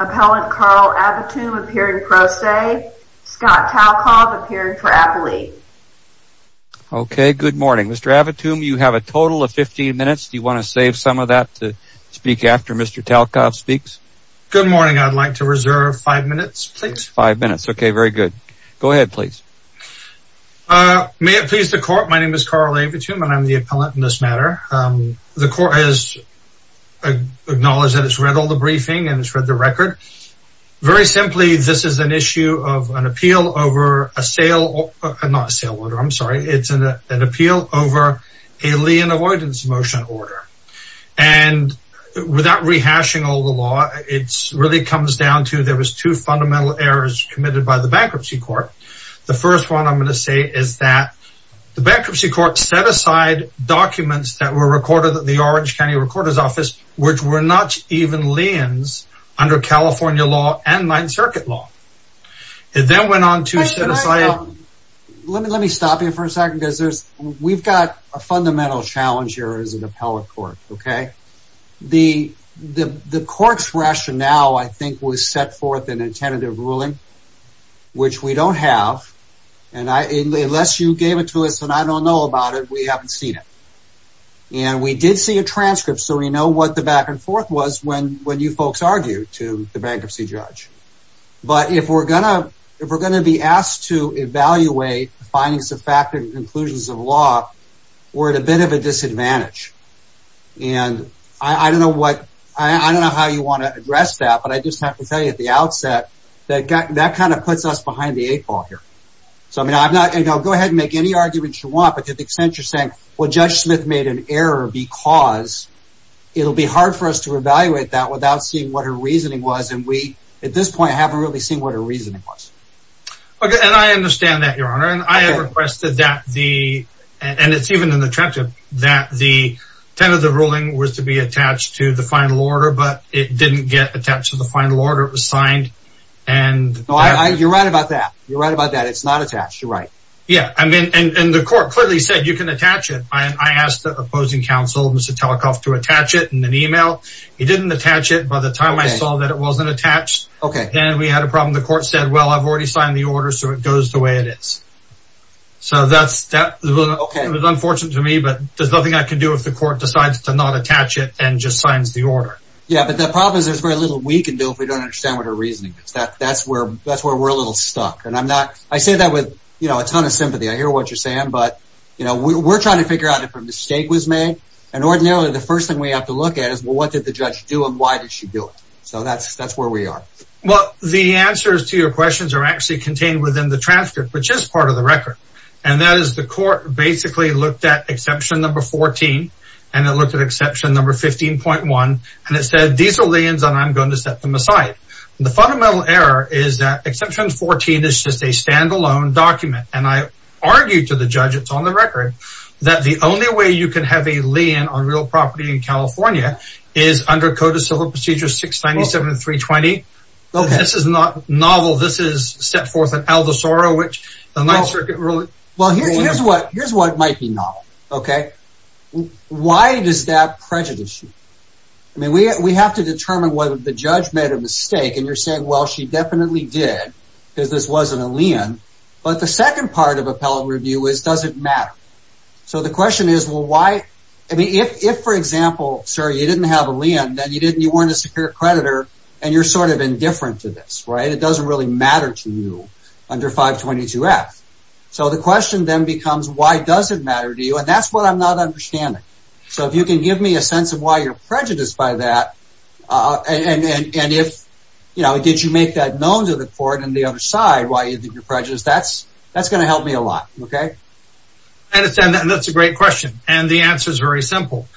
Appellant Carl Avitum appeared in pro se, Scott Talkov appeared for appellee. Okay, good morning. Mr. Avitum, you have a total of 15 minutes. Do you want to save some of that to speak after Mr. Talkov speaks? Good morning. I'd like to reserve five minutes, please. Five minutes. Okay, very good. Go ahead, please. May it please the court, my name is Carl Avitum and I'm the appellant in this matter. The court has acknowledged that it's read all the briefing and it's read the record. Very simply, this is an issue of an appeal over a sale, not a sale order, I'm sorry. It's an appeal over a lien avoidance motion order. And without rehashing all the law, it really comes down to there was two fundamental errors committed by the bankruptcy court. The first one I'm going to say is that the bankruptcy court set aside documents that were recorded at the Orange County Recorder's Office, which were not even liens under California law and Ninth Circuit law. It then went on to set aside... Let me stop you for a second because we've got a fundamental challenge here as an appellate court. The court's rationale, I think, was set forth in a tentative ruling, which we don't have. And unless you gave it to us and I don't know about it, we haven't seen it. And we did see a transcript so we know what the back and forth was when you folks argued to the bankruptcy judge. But if we're going to be asked to evaluate findings of fact and conclusions of law, we're at a bit of a disadvantage. And I don't know how you want to address that, but I just have to tell you at the outset that that kind of puts us behind the eight ball here. Go ahead and make any arguments you want, but to the extent you're saying, well, Judge Smith made an error because... It'll be hard for us to evaluate that without seeing what her reasoning was. And we, at this point, haven't really seen what her reasoning was. And I understand that, Your Honor. And I have requested that the... And it's even in the transcript that the tentative ruling was to be attached to the final order, but it didn't get attached to the final order. It was signed and... You're right about that. You're right about that. It's not attached. You're right. Yeah. And the court clearly said you can attach it. I asked the opposing counsel, Mr. Telekoff, to attach it in an email. It didn't attach it by the time I saw that it wasn't attached. Okay. And we had a problem. The court said, well, I've already signed the order, so it goes the way it is. So that's... Okay. It was unfortunate to me, but there's nothing I can do if the court decides to not attach it and just signs the order. Yeah, but the problem is there's very little we can do if we don't understand what her reasoning is. That's where we're a little stuck. And I'm not... I say that with a ton of sympathy. I hear what you're saying. But, you know, we're trying to figure out if a mistake was made. And ordinarily, the first thing we have to look at is, well, what did the judge do and why did she do it? So that's where we are. Well, the answers to your questions are actually contained within the transcript, which is part of the record. And that is the court basically looked at exception number 14 and it looked at exception number 15.1. And it said, these are liens, and I'm going to set them aside. The fundamental error is that exception 14 is just a standalone document. And I argue to the judge, it's on the record, that the only way you can have a lien on real property in California is under Code of Civil Procedure 697.320. This is not novel. This is set forth in Aldo Soro, which the Ninth Circuit really... Well, here's what might be novel, okay? Why does that prejudice you? I mean, we have to determine whether the judge made a mistake. And you're saying, well, she definitely did because this wasn't a lien. But the second part of appellate review is, does it matter? So the question is, well, why? I mean, if, for example, sir, you didn't have a lien, then you weren't a secure creditor, and you're sort of indifferent to this, right? It doesn't really matter to you under 522F. So the question then becomes, why does it matter to you? And that's what I'm not understanding. So if you can give me a sense of why you're prejudiced by that. And if, you know, did you make that known to the court on the other side why you're prejudiced? That's going to help me a lot, okay? I understand that, and that's a great question. And the answer is very simple.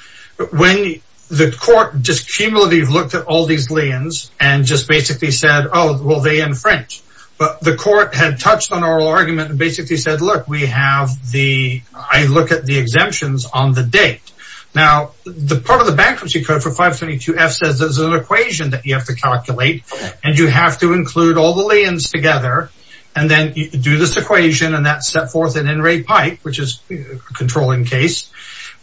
When the court just cumulatively looked at all these liens and just basically said, oh, well, they infringe. But the court had touched on oral argument and basically said, look, we have the... I look at the exemptions on the date. Now, the part of the bankruptcy code for 522F says there's an equation that you have to calculate. And you have to include all the liens together. And then you do this equation, and that's set forth an in-rate pipe, which is a controlling case.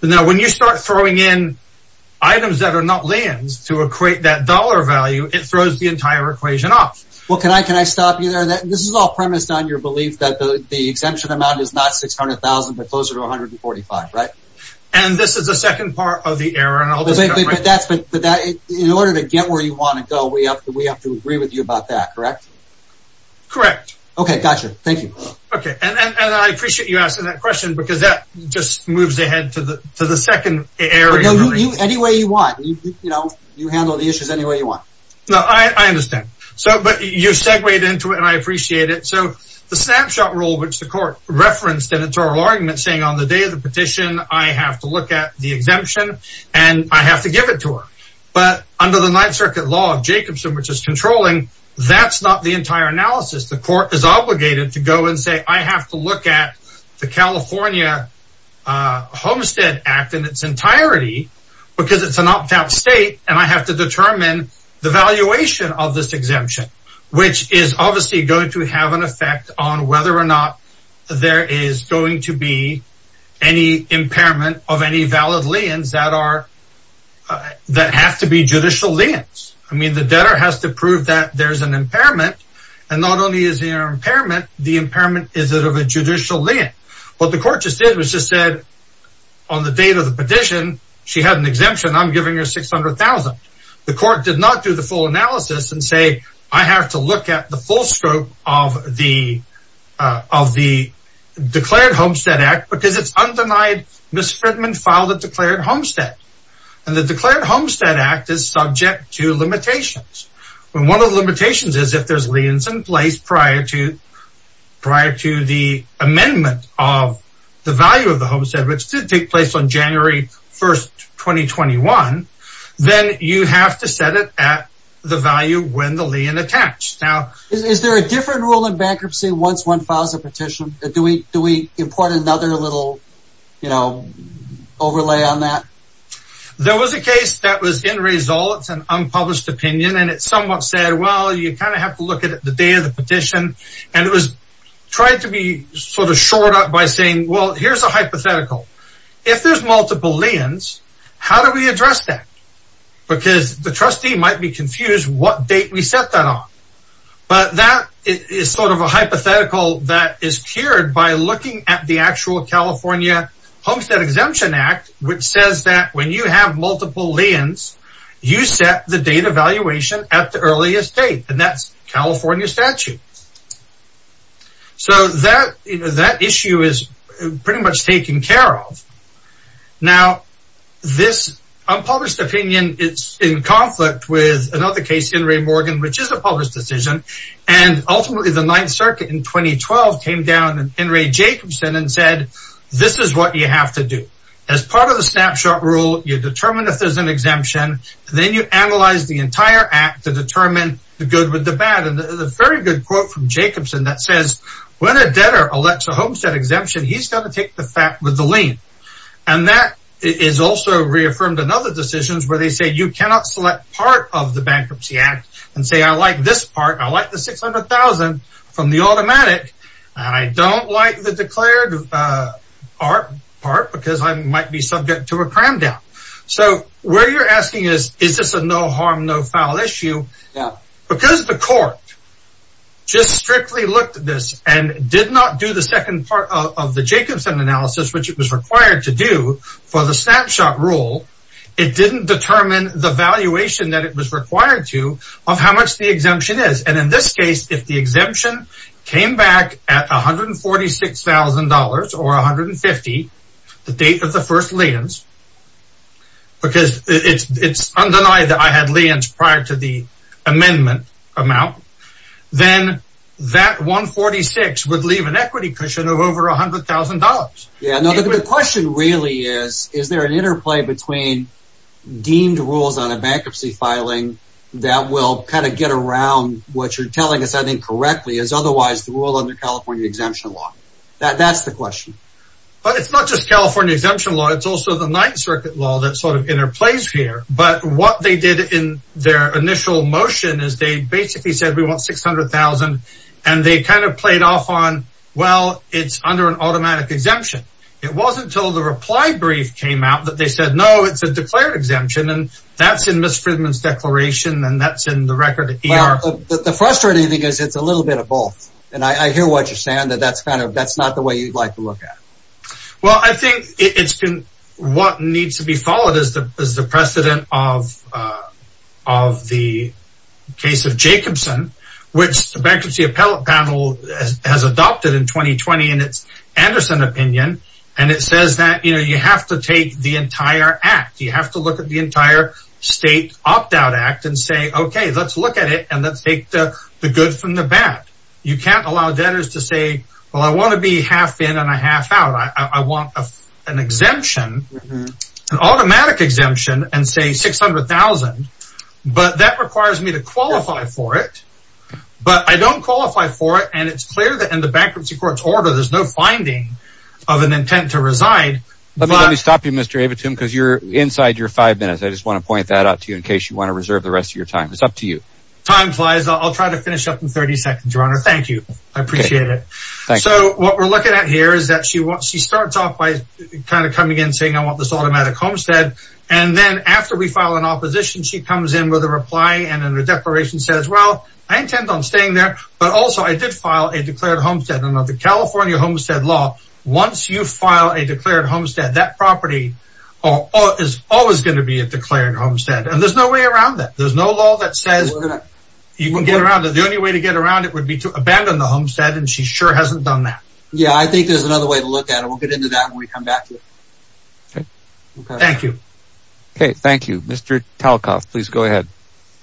Now, when you start throwing in items that are not liens to equate that dollar value, it throws the entire equation off. Well, can I stop you there? This is all premised on your belief that the exemption amount is not $600,000 but closer to $145,000, right? And this is the second part of the error. But in order to get where you want to go, we have to agree with you about that, correct? Correct. Okay, gotcha. Thank you. Okay, and I appreciate you asking that question because that just moves ahead to the second error. Anyway you want. You handle the issues any way you want. No, I understand. But you segued into it, and I appreciate it. So the snapshot rule, which the court referenced in its oral argument saying on the day of the petition, I have to look at the exemption, and I have to give it to her. But under the Ninth Circuit law of Jacobson, which is controlling, that's not the entire analysis. The court is obligated to go and say, I have to look at the California Homestead Act in its entirety because it's an opt-out state, and I have to determine the valuation of this exemption, which is obviously going to have an effect on whether or not there is going to be any impairment of any valid liens that have to be judicial liens. I mean, the debtor has to prove that there's an impairment, and not only is there an impairment, the impairment is that of a judicial lien. What the court just did was just said on the date of the petition, she had an exemption. I'm giving her $600,000. The court did not do the full analysis and say, I have to look at the full scope of the declared Homestead Act because it's undenied. Ms. Fridman filed a declared homestead, and the declared Homestead Act is subject to limitations. One of the limitations is if there's liens in place prior to the amendment of the value of the homestead, which did take place on January 1st, 2021, then you have to set it at the value when the lien attached. Is there a different rule in bankruptcy once one files a petition? Do we import another little overlay on that? There was a case that was in results and unpublished opinion, and it somewhat said, well, you kind of have to look at the day of the petition. And it was tried to be sort of shored up by saying, well, here's a hypothetical. If there's multiple liens, how do we address that? Because the trustee might be confused what date we set that on. But that is sort of a hypothetical that is cured by looking at the actual California Homestead Exemption Act, which says that when you have multiple liens, you set the date of valuation at the earliest date. And that's California statute. So that issue is pretty much taken care of. Now, this unpublished opinion is in conflict with another case in Ray Morgan, which is a public decision. And ultimately, the Ninth Circuit in 2012 came down and Ray Jacobson and said, this is what you have to do as part of the snapshot rule. You determine if there's an exemption. Then you analyze the entire act to determine the good with the bad. And the very good quote from Jacobson that says, when a debtor elects a homestead exemption, he's going to take the fact with the lien. And that is also reaffirmed in other decisions where they say you cannot select part of the Bankruptcy Act and say, I like this part. I like the 600,000 from the automatic. And I don't like the declared part because I might be subject to a cram down. So where you're asking is, is this a no harm, no foul issue? Because the court just strictly looked at this and did not do the second part of the Jacobson analysis, which it was required to do for the snapshot rule. It didn't determine the valuation that it was required to of how much the exemption is. And in this case, if the exemption came back at $146,000 or $150,000, the date of the first liens, because it's undeniable that I had liens prior to the amendment amount. Then that $146,000 would leave an equity cushion of over $100,000. The question really is, is there an interplay between deemed rules on a bankruptcy filing that will kind of get around what you're telling us? I think correctly is otherwise the rule under California exemption law. That's the question. But it's not just California exemption law. It's also the Ninth Circuit law that sort of interplays here. But what they did in their initial motion is they basically said, we want $600,000. And they kind of played off on, well, it's under an automatic exemption. It wasn't until the reply brief came out that they said, no, it's a declared exemption. And that's in Ms. Fridman's declaration. And that's in the record. The frustrating thing is it's a little bit of both. And I hear what you're saying that that's kind of that's not the way you'd like to look at. Well, I think it's been what needs to be followed is the precedent of the case of Jacobson, which the bankruptcy appellate panel has adopted in 2020 in its Anderson opinion. And it says that, you know, you have to take the entire act. You have to look at the entire state opt out act and say, OK, let's look at it and let's take the good from the bad. You can't allow debtors to say, well, I want to be half in and a half out. I want an exemption, an automatic exemption and say $600,000. But that requires me to qualify for it. But I don't qualify for it. And it's clear that in the bankruptcy court's order, there's no finding of an intent to reside. Let me stop you, Mr. Abitum, because you're inside your five minutes. I just want to point that out to you in case you want to reserve the rest of your time. It's up to you. Time flies. I'll try to finish up in 30 seconds, Your Honor. Thank you. I appreciate it. So what we're looking at here is that she wants she starts off by kind of coming in saying, I want this automatic homestead. And then after we file an opposition, she comes in with a reply. And then the declaration says, well, I intend on staying there. But also, I did file a declared homestead in the California homestead law. Once you file a declared homestead, that property is always going to be a declared homestead. And there's no way around that. There's no law that says you can get around it. The only way to get around it would be to abandon the homestead. And she sure hasn't done that. Yeah, I think there's another way to look at it. We'll get into that when we come back. Thank you. Okay, thank you. Mr. Talcott, please go ahead.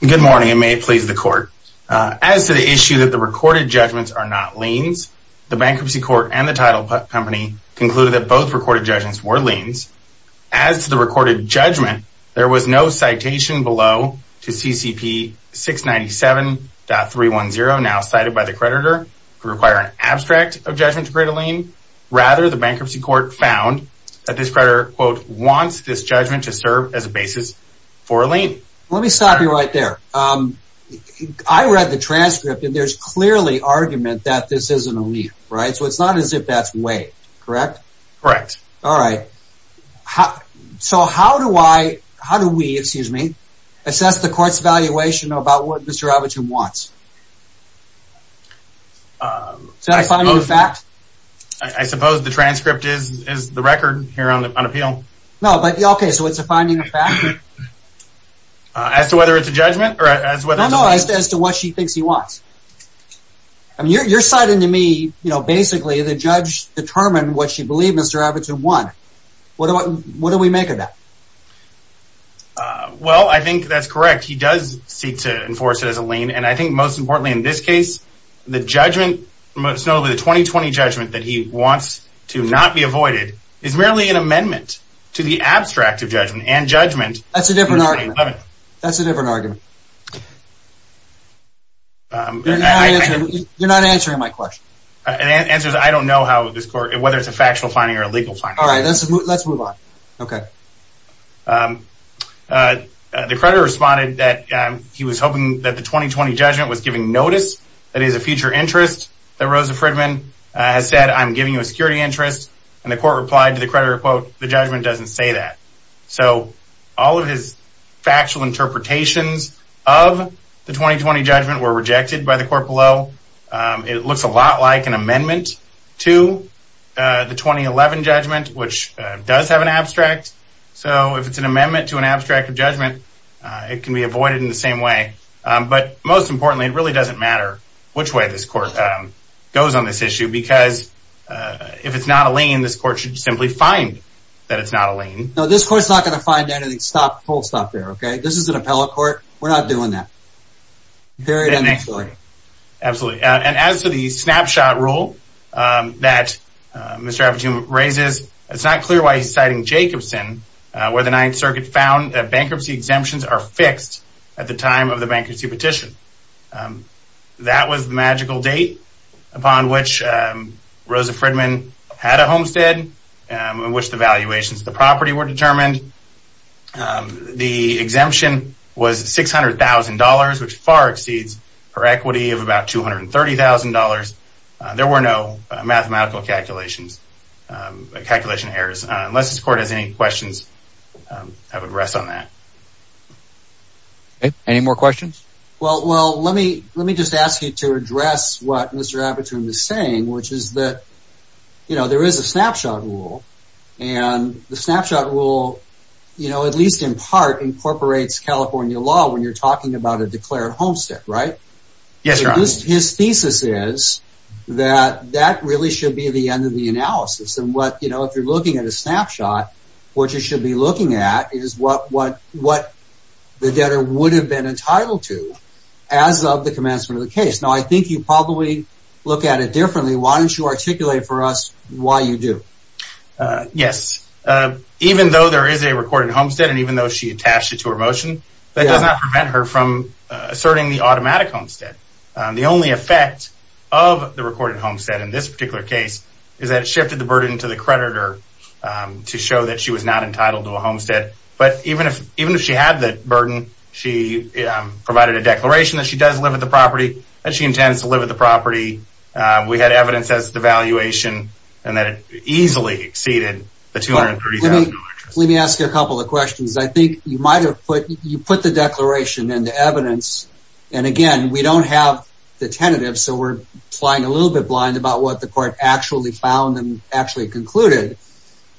Good morning, and may it please the court. As to the issue that the recorded judgments are not liens, the bankruptcy court and the title company concluded that both recorded judgments were liens. As to the recorded judgment, there was no citation below to CCP 697.310, now cited by the creditor, to require an abstract of judgment to create a lien. Rather, the bankruptcy court found that this creditor, quote, wants this judgment to serve as a basis for a lien. Let me stop you right there. I read the transcript, and there's clearly argument that this is a lien, right? So it's not as if that's waived, correct? Correct. All right. So how do I, how do we, excuse me, assess the court's evaluation about what Mr. Abitum wants? Is that a finding of fact? I suppose the transcript is the record here on appeal. No, but, okay, so it's a finding of fact? As to whether it's a judgment? No, no, as to what she thinks he wants. I mean, you're citing to me, you know, basically the judge determined what she believed Mr. Abitum wanted. What do we make of that? Well, I think that's correct. He does seek to enforce it as a lien, and I think most importantly in this case, the judgment, most notably the 2020 judgment that he wants to not be avoided, is merely an amendment to the abstract of judgment and judgment in 2011. That's a different argument. That's a different argument. You're not answering my question. The answer is I don't know whether it's a factual finding or a legal finding. All right, let's move on. Okay. The creditor responded that he was hoping that the 2020 judgment was giving notice that it is a future interest that Rosa Fridman has said, I'm giving you a security interest, and the court replied to the creditor, quote, the judgment doesn't say that. So all of his factual interpretations of the 2020 judgment were rejected by the court below. It looks a lot like an amendment to the 2011 judgment, which does have an abstract. So if it's an amendment to an abstract of judgment, it can be avoided in the same way. But most importantly, it really doesn't matter which way this court goes on this issue, because if it's not a lien, this court should simply find that it's not a lien. No, this court's not going to find anything, full stop there, okay? This is an appellate court. We're not doing that. Period. Absolutely. And as to the snapshot rule that Mr. Appletune raises, it's not clear why he's citing Jacobson, where the Ninth Circuit found that bankruptcy exemptions are fixed at the time of the bankruptcy petition. That was the magical date upon which Rosa Fridman had a homestead, in which the valuations of the property were determined. The exemption was $600,000, which far exceeds her equity of about $230,000. There were no mathematical calculations, calculation errors. Unless this court has any questions, I would rest on that. Any more questions? Well, let me just ask you to address what Mr. Appletune is saying, which is that there is a snapshot rule. And the snapshot rule, at least in part, incorporates California law when you're talking about a declared homestead, right? Yes, Your Honor. His thesis is that that really should be the end of the analysis. If you're looking at a snapshot, what you should be looking at is what the debtor would have been entitled to as of the commencement of the case. Now, I think you probably look at it differently. Why don't you articulate for us why you do? Yes. Even though there is a recorded homestead, and even though she attached it to her motion, that does not prevent her from asserting the automatic homestead. The only effect of the recorded homestead in this particular case is that it shifted the burden to the creditor to show that she was not entitled to a homestead. But even if she had the burden, she provided a declaration that she does live at the property, that she intends to live at the property. We had evidence as to the valuation, and that it easily exceeded the $230,000. Let me ask you a couple of questions. I think you put the declaration and the evidence, and again, we don't have the tentative, so we're flying a little bit blind about what the court actually found and actually concluded.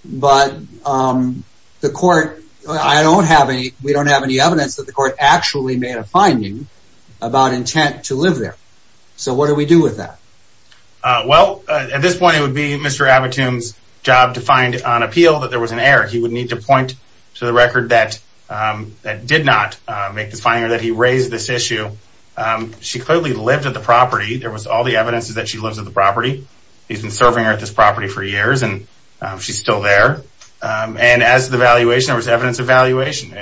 But we don't have any evidence that the court actually made a finding about intent to live there. So what do we do with that? Well, at this point, it would be Mr. Abitum's job to find on appeal that there was an error. He would need to point to the record that did not make this finding or that he raised this issue. She clearly lived at the property. There was all the evidence that she lives at the property. He's been serving her at this property for years, and she's still there. And as to the valuation, there was evidence of valuation.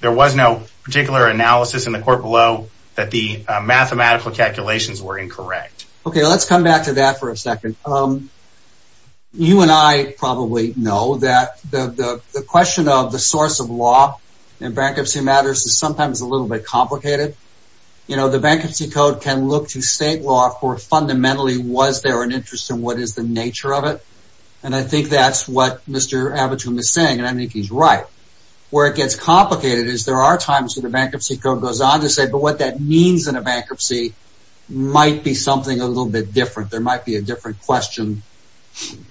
There was no particular analysis in the court below that the mathematical calculations were incorrect. Okay, let's come back to that for a second. You and I probably know that the question of the source of law in bankruptcy matters is sometimes a little bit complicated. You know, the Bankruptcy Code can look to state law for fundamentally was there an interest in what is the nature of it. And I think that's what Mr. Abitum is saying, and I think he's right. Where it gets complicated is there are times when the Bankruptcy Code goes on to say, but what that means in a bankruptcy might be something a little bit different. There might be a different question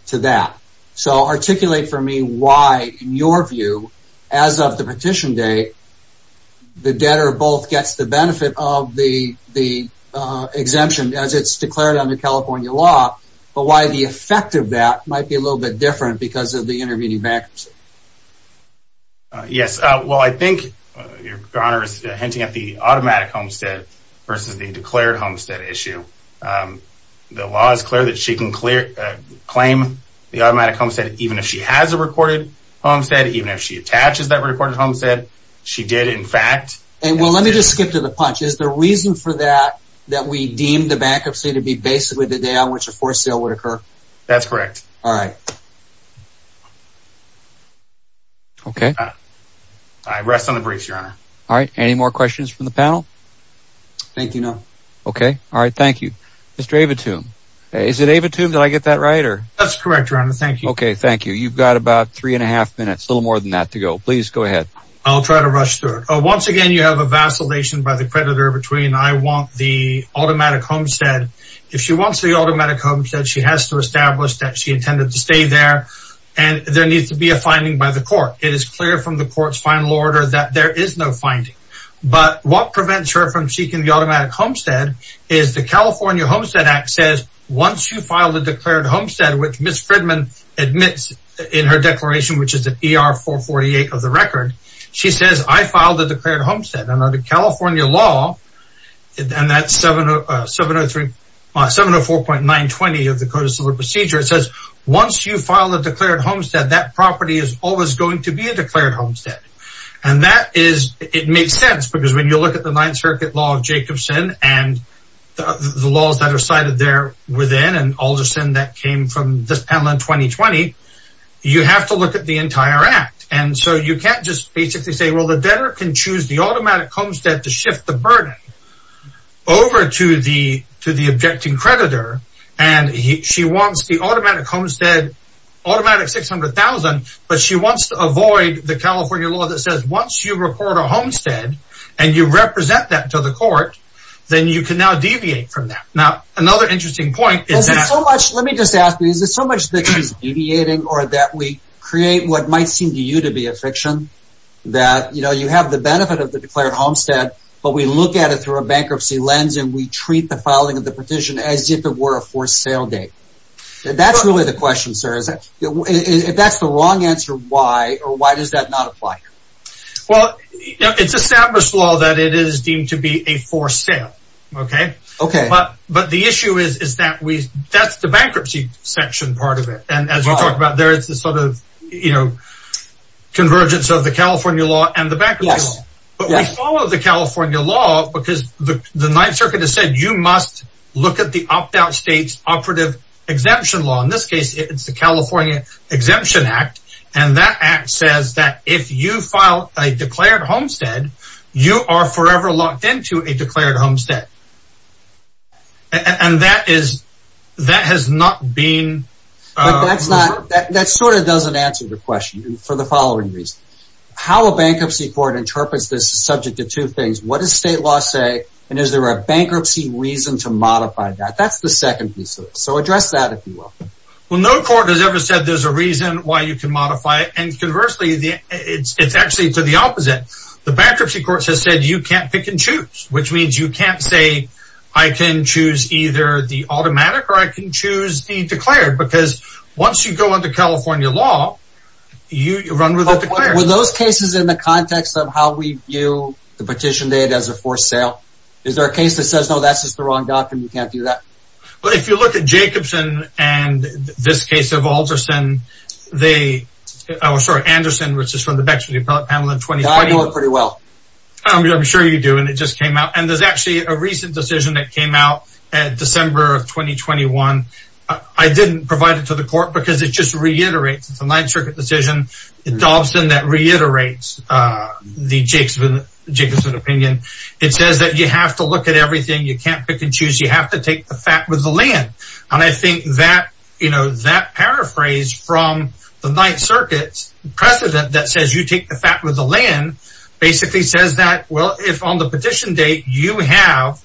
to that. So articulate for me why, in your view, as of the petition date, the debtor both gets the benefit of the exemption as it's declared under California law, but why the effect of that might be a little bit different because of the intervening bankruptcy. Yes, well, I think your Honor is hinting at the automatic homestead versus the declared homestead issue. The law is clear that she can claim the automatic homestead even if she has a recorded homestead, even if she attaches that recorded homestead. She did, in fact. Well, let me just skip to the punch. Is the reason for that that we deem the bankruptcy to be basically the day on which a forced sale would occur? That's correct. All right. Okay. I rest on the briefs, Your Honor. All right. Any more questions from the panel? Thank you, Your Honor. Okay. All right. Thank you. Mr. Abitum, is it Abitum? Did I get that right? That's correct, Your Honor. Thank you. Okay. Thank you. You've got about three and a half minutes, a little more than that to go. Please go ahead. I'll try to rush through it. Once again, you have a vacillation by the creditor between I want the automatic homestead. If she wants the automatic homestead, she has to establish that she intended to stay there, and there needs to be a finding by the court. It is clear from the court's final order that there is no finding. But what prevents her from seeking the automatic homestead is the California Homestead Act says once you file the declared homestead, which Ms. Fridman admits in her declaration, which is an ER-448 of the record, she says, I filed a declared homestead. And under California law, and that's 704.920 of the Code of Civil Procedure, it says once you file a declared homestead, that property is always going to be a declared homestead. And that is, it makes sense because when you look at the Ninth Circuit law of Jacobson and the laws that are cited there within, and Alderson that came from this panel in 2020, you have to look at the entire act. And so you can't just basically say, well, the debtor can choose the automatic homestead to shift the burden over to the objecting creditor. And she wants the automatic homestead, automatic 600,000, but she wants to avoid the California law that says once you report a homestead, and you represent that to the court, then you can now deviate from that. Now, another interesting point is that... Let me just ask you, is it so much that she's deviating or that we create what might seem to you to be a fiction? That, you know, you have the benefit of the declared homestead, but we look at it through a bankruptcy lens, and we treat the filing of the petition as if it were a forced sale date. That's really the question, sir. If that's the wrong answer, why, or why does that not apply? Well, it's established law that it is deemed to be a forced sale, okay? Okay. But the issue is that we, that's the bankruptcy section part of it. And as we talked about, there is this sort of, you know, convergence of the California law and the bankruptcy law. But we follow the California law because the Ninth Circuit has said you must look at the opt-out state's operative exemption law. In this case, it's the California Exemption Act, and that act says that if you file a declared homestead, you are forever locked into a declared homestead. And that is, that has not been... But that's not, that sort of doesn't answer the question for the following reason. How a bankruptcy court interprets this is subject to two things. What does state law say, and is there a bankruptcy reason to modify that? That's the second piece of it. So address that, if you will. Well, no court has ever said there's a reason why you can modify it. And conversely, it's actually to the opposite. The bankruptcy court has said you can't pick and choose, which means you can't say I can choose either the automatic or I can choose the declared because once you go under California law, you run with the declared. Were those cases in the context of how we view the petition date as a forced sale? Is there a case that says, no, that's just the wrong document, you can't do that? Well, if you look at Jacobson and this case of Alderson, they... I'm sorry, Anderson, which is from the Bexley Appellate Panel in 2020. Yeah, I know it pretty well. I'm sure you do, and it just came out. And there's actually a recent decision that came out in December of 2021. I didn't provide it to the court because it just reiterates the Ninth Circuit decision, the Dobson that reiterates the Jacobson opinion. It says that you have to look at everything. You can't pick and choose. You have to take the fact with the land. And I think that paraphrase from the Ninth Circuit precedent that says you take the fact with the land basically says that, well, if on the petition date you have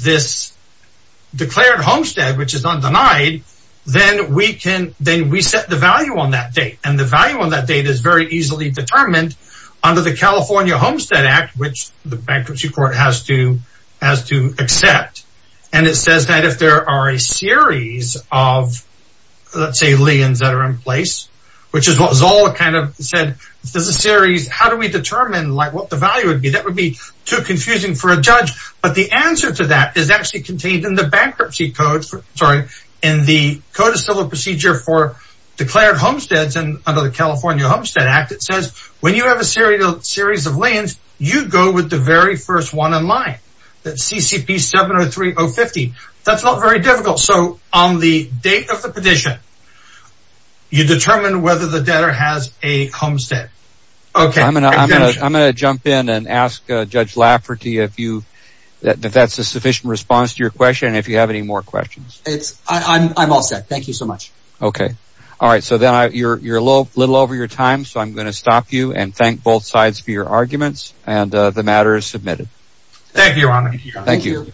this declared homestead, which is undenied, then we set the value on that date. And the value on that date is very easily determined under the California Homestead Act, which the bankruptcy court has to accept. And it says that if there are a series of, let's say, liens that are in place, which is what Zola kind of said, if there's a series, how do we determine what the value would be? That would be too confusing for a judge. But the answer to that is actually contained in the bankruptcy code, sorry, in the Code of Civil Procedure for Declared Homesteads. And under the California Homestead Act, it says when you have a series of liens, you go with the very first one in line, that's CCP 703050. That's not very difficult. So on the date of the petition, you determine whether the debtor has a homestead. Okay. I'm going to jump in and ask Judge Lafferty if that's a sufficient response to your question, and if you have any more questions. I'm all set. Thank you so much. Okay. All right. So then you're a little over your time, so I'm going to stop you and thank both sides for your arguments. And the matter is submitted. Thank you, Your Honor. Thank you.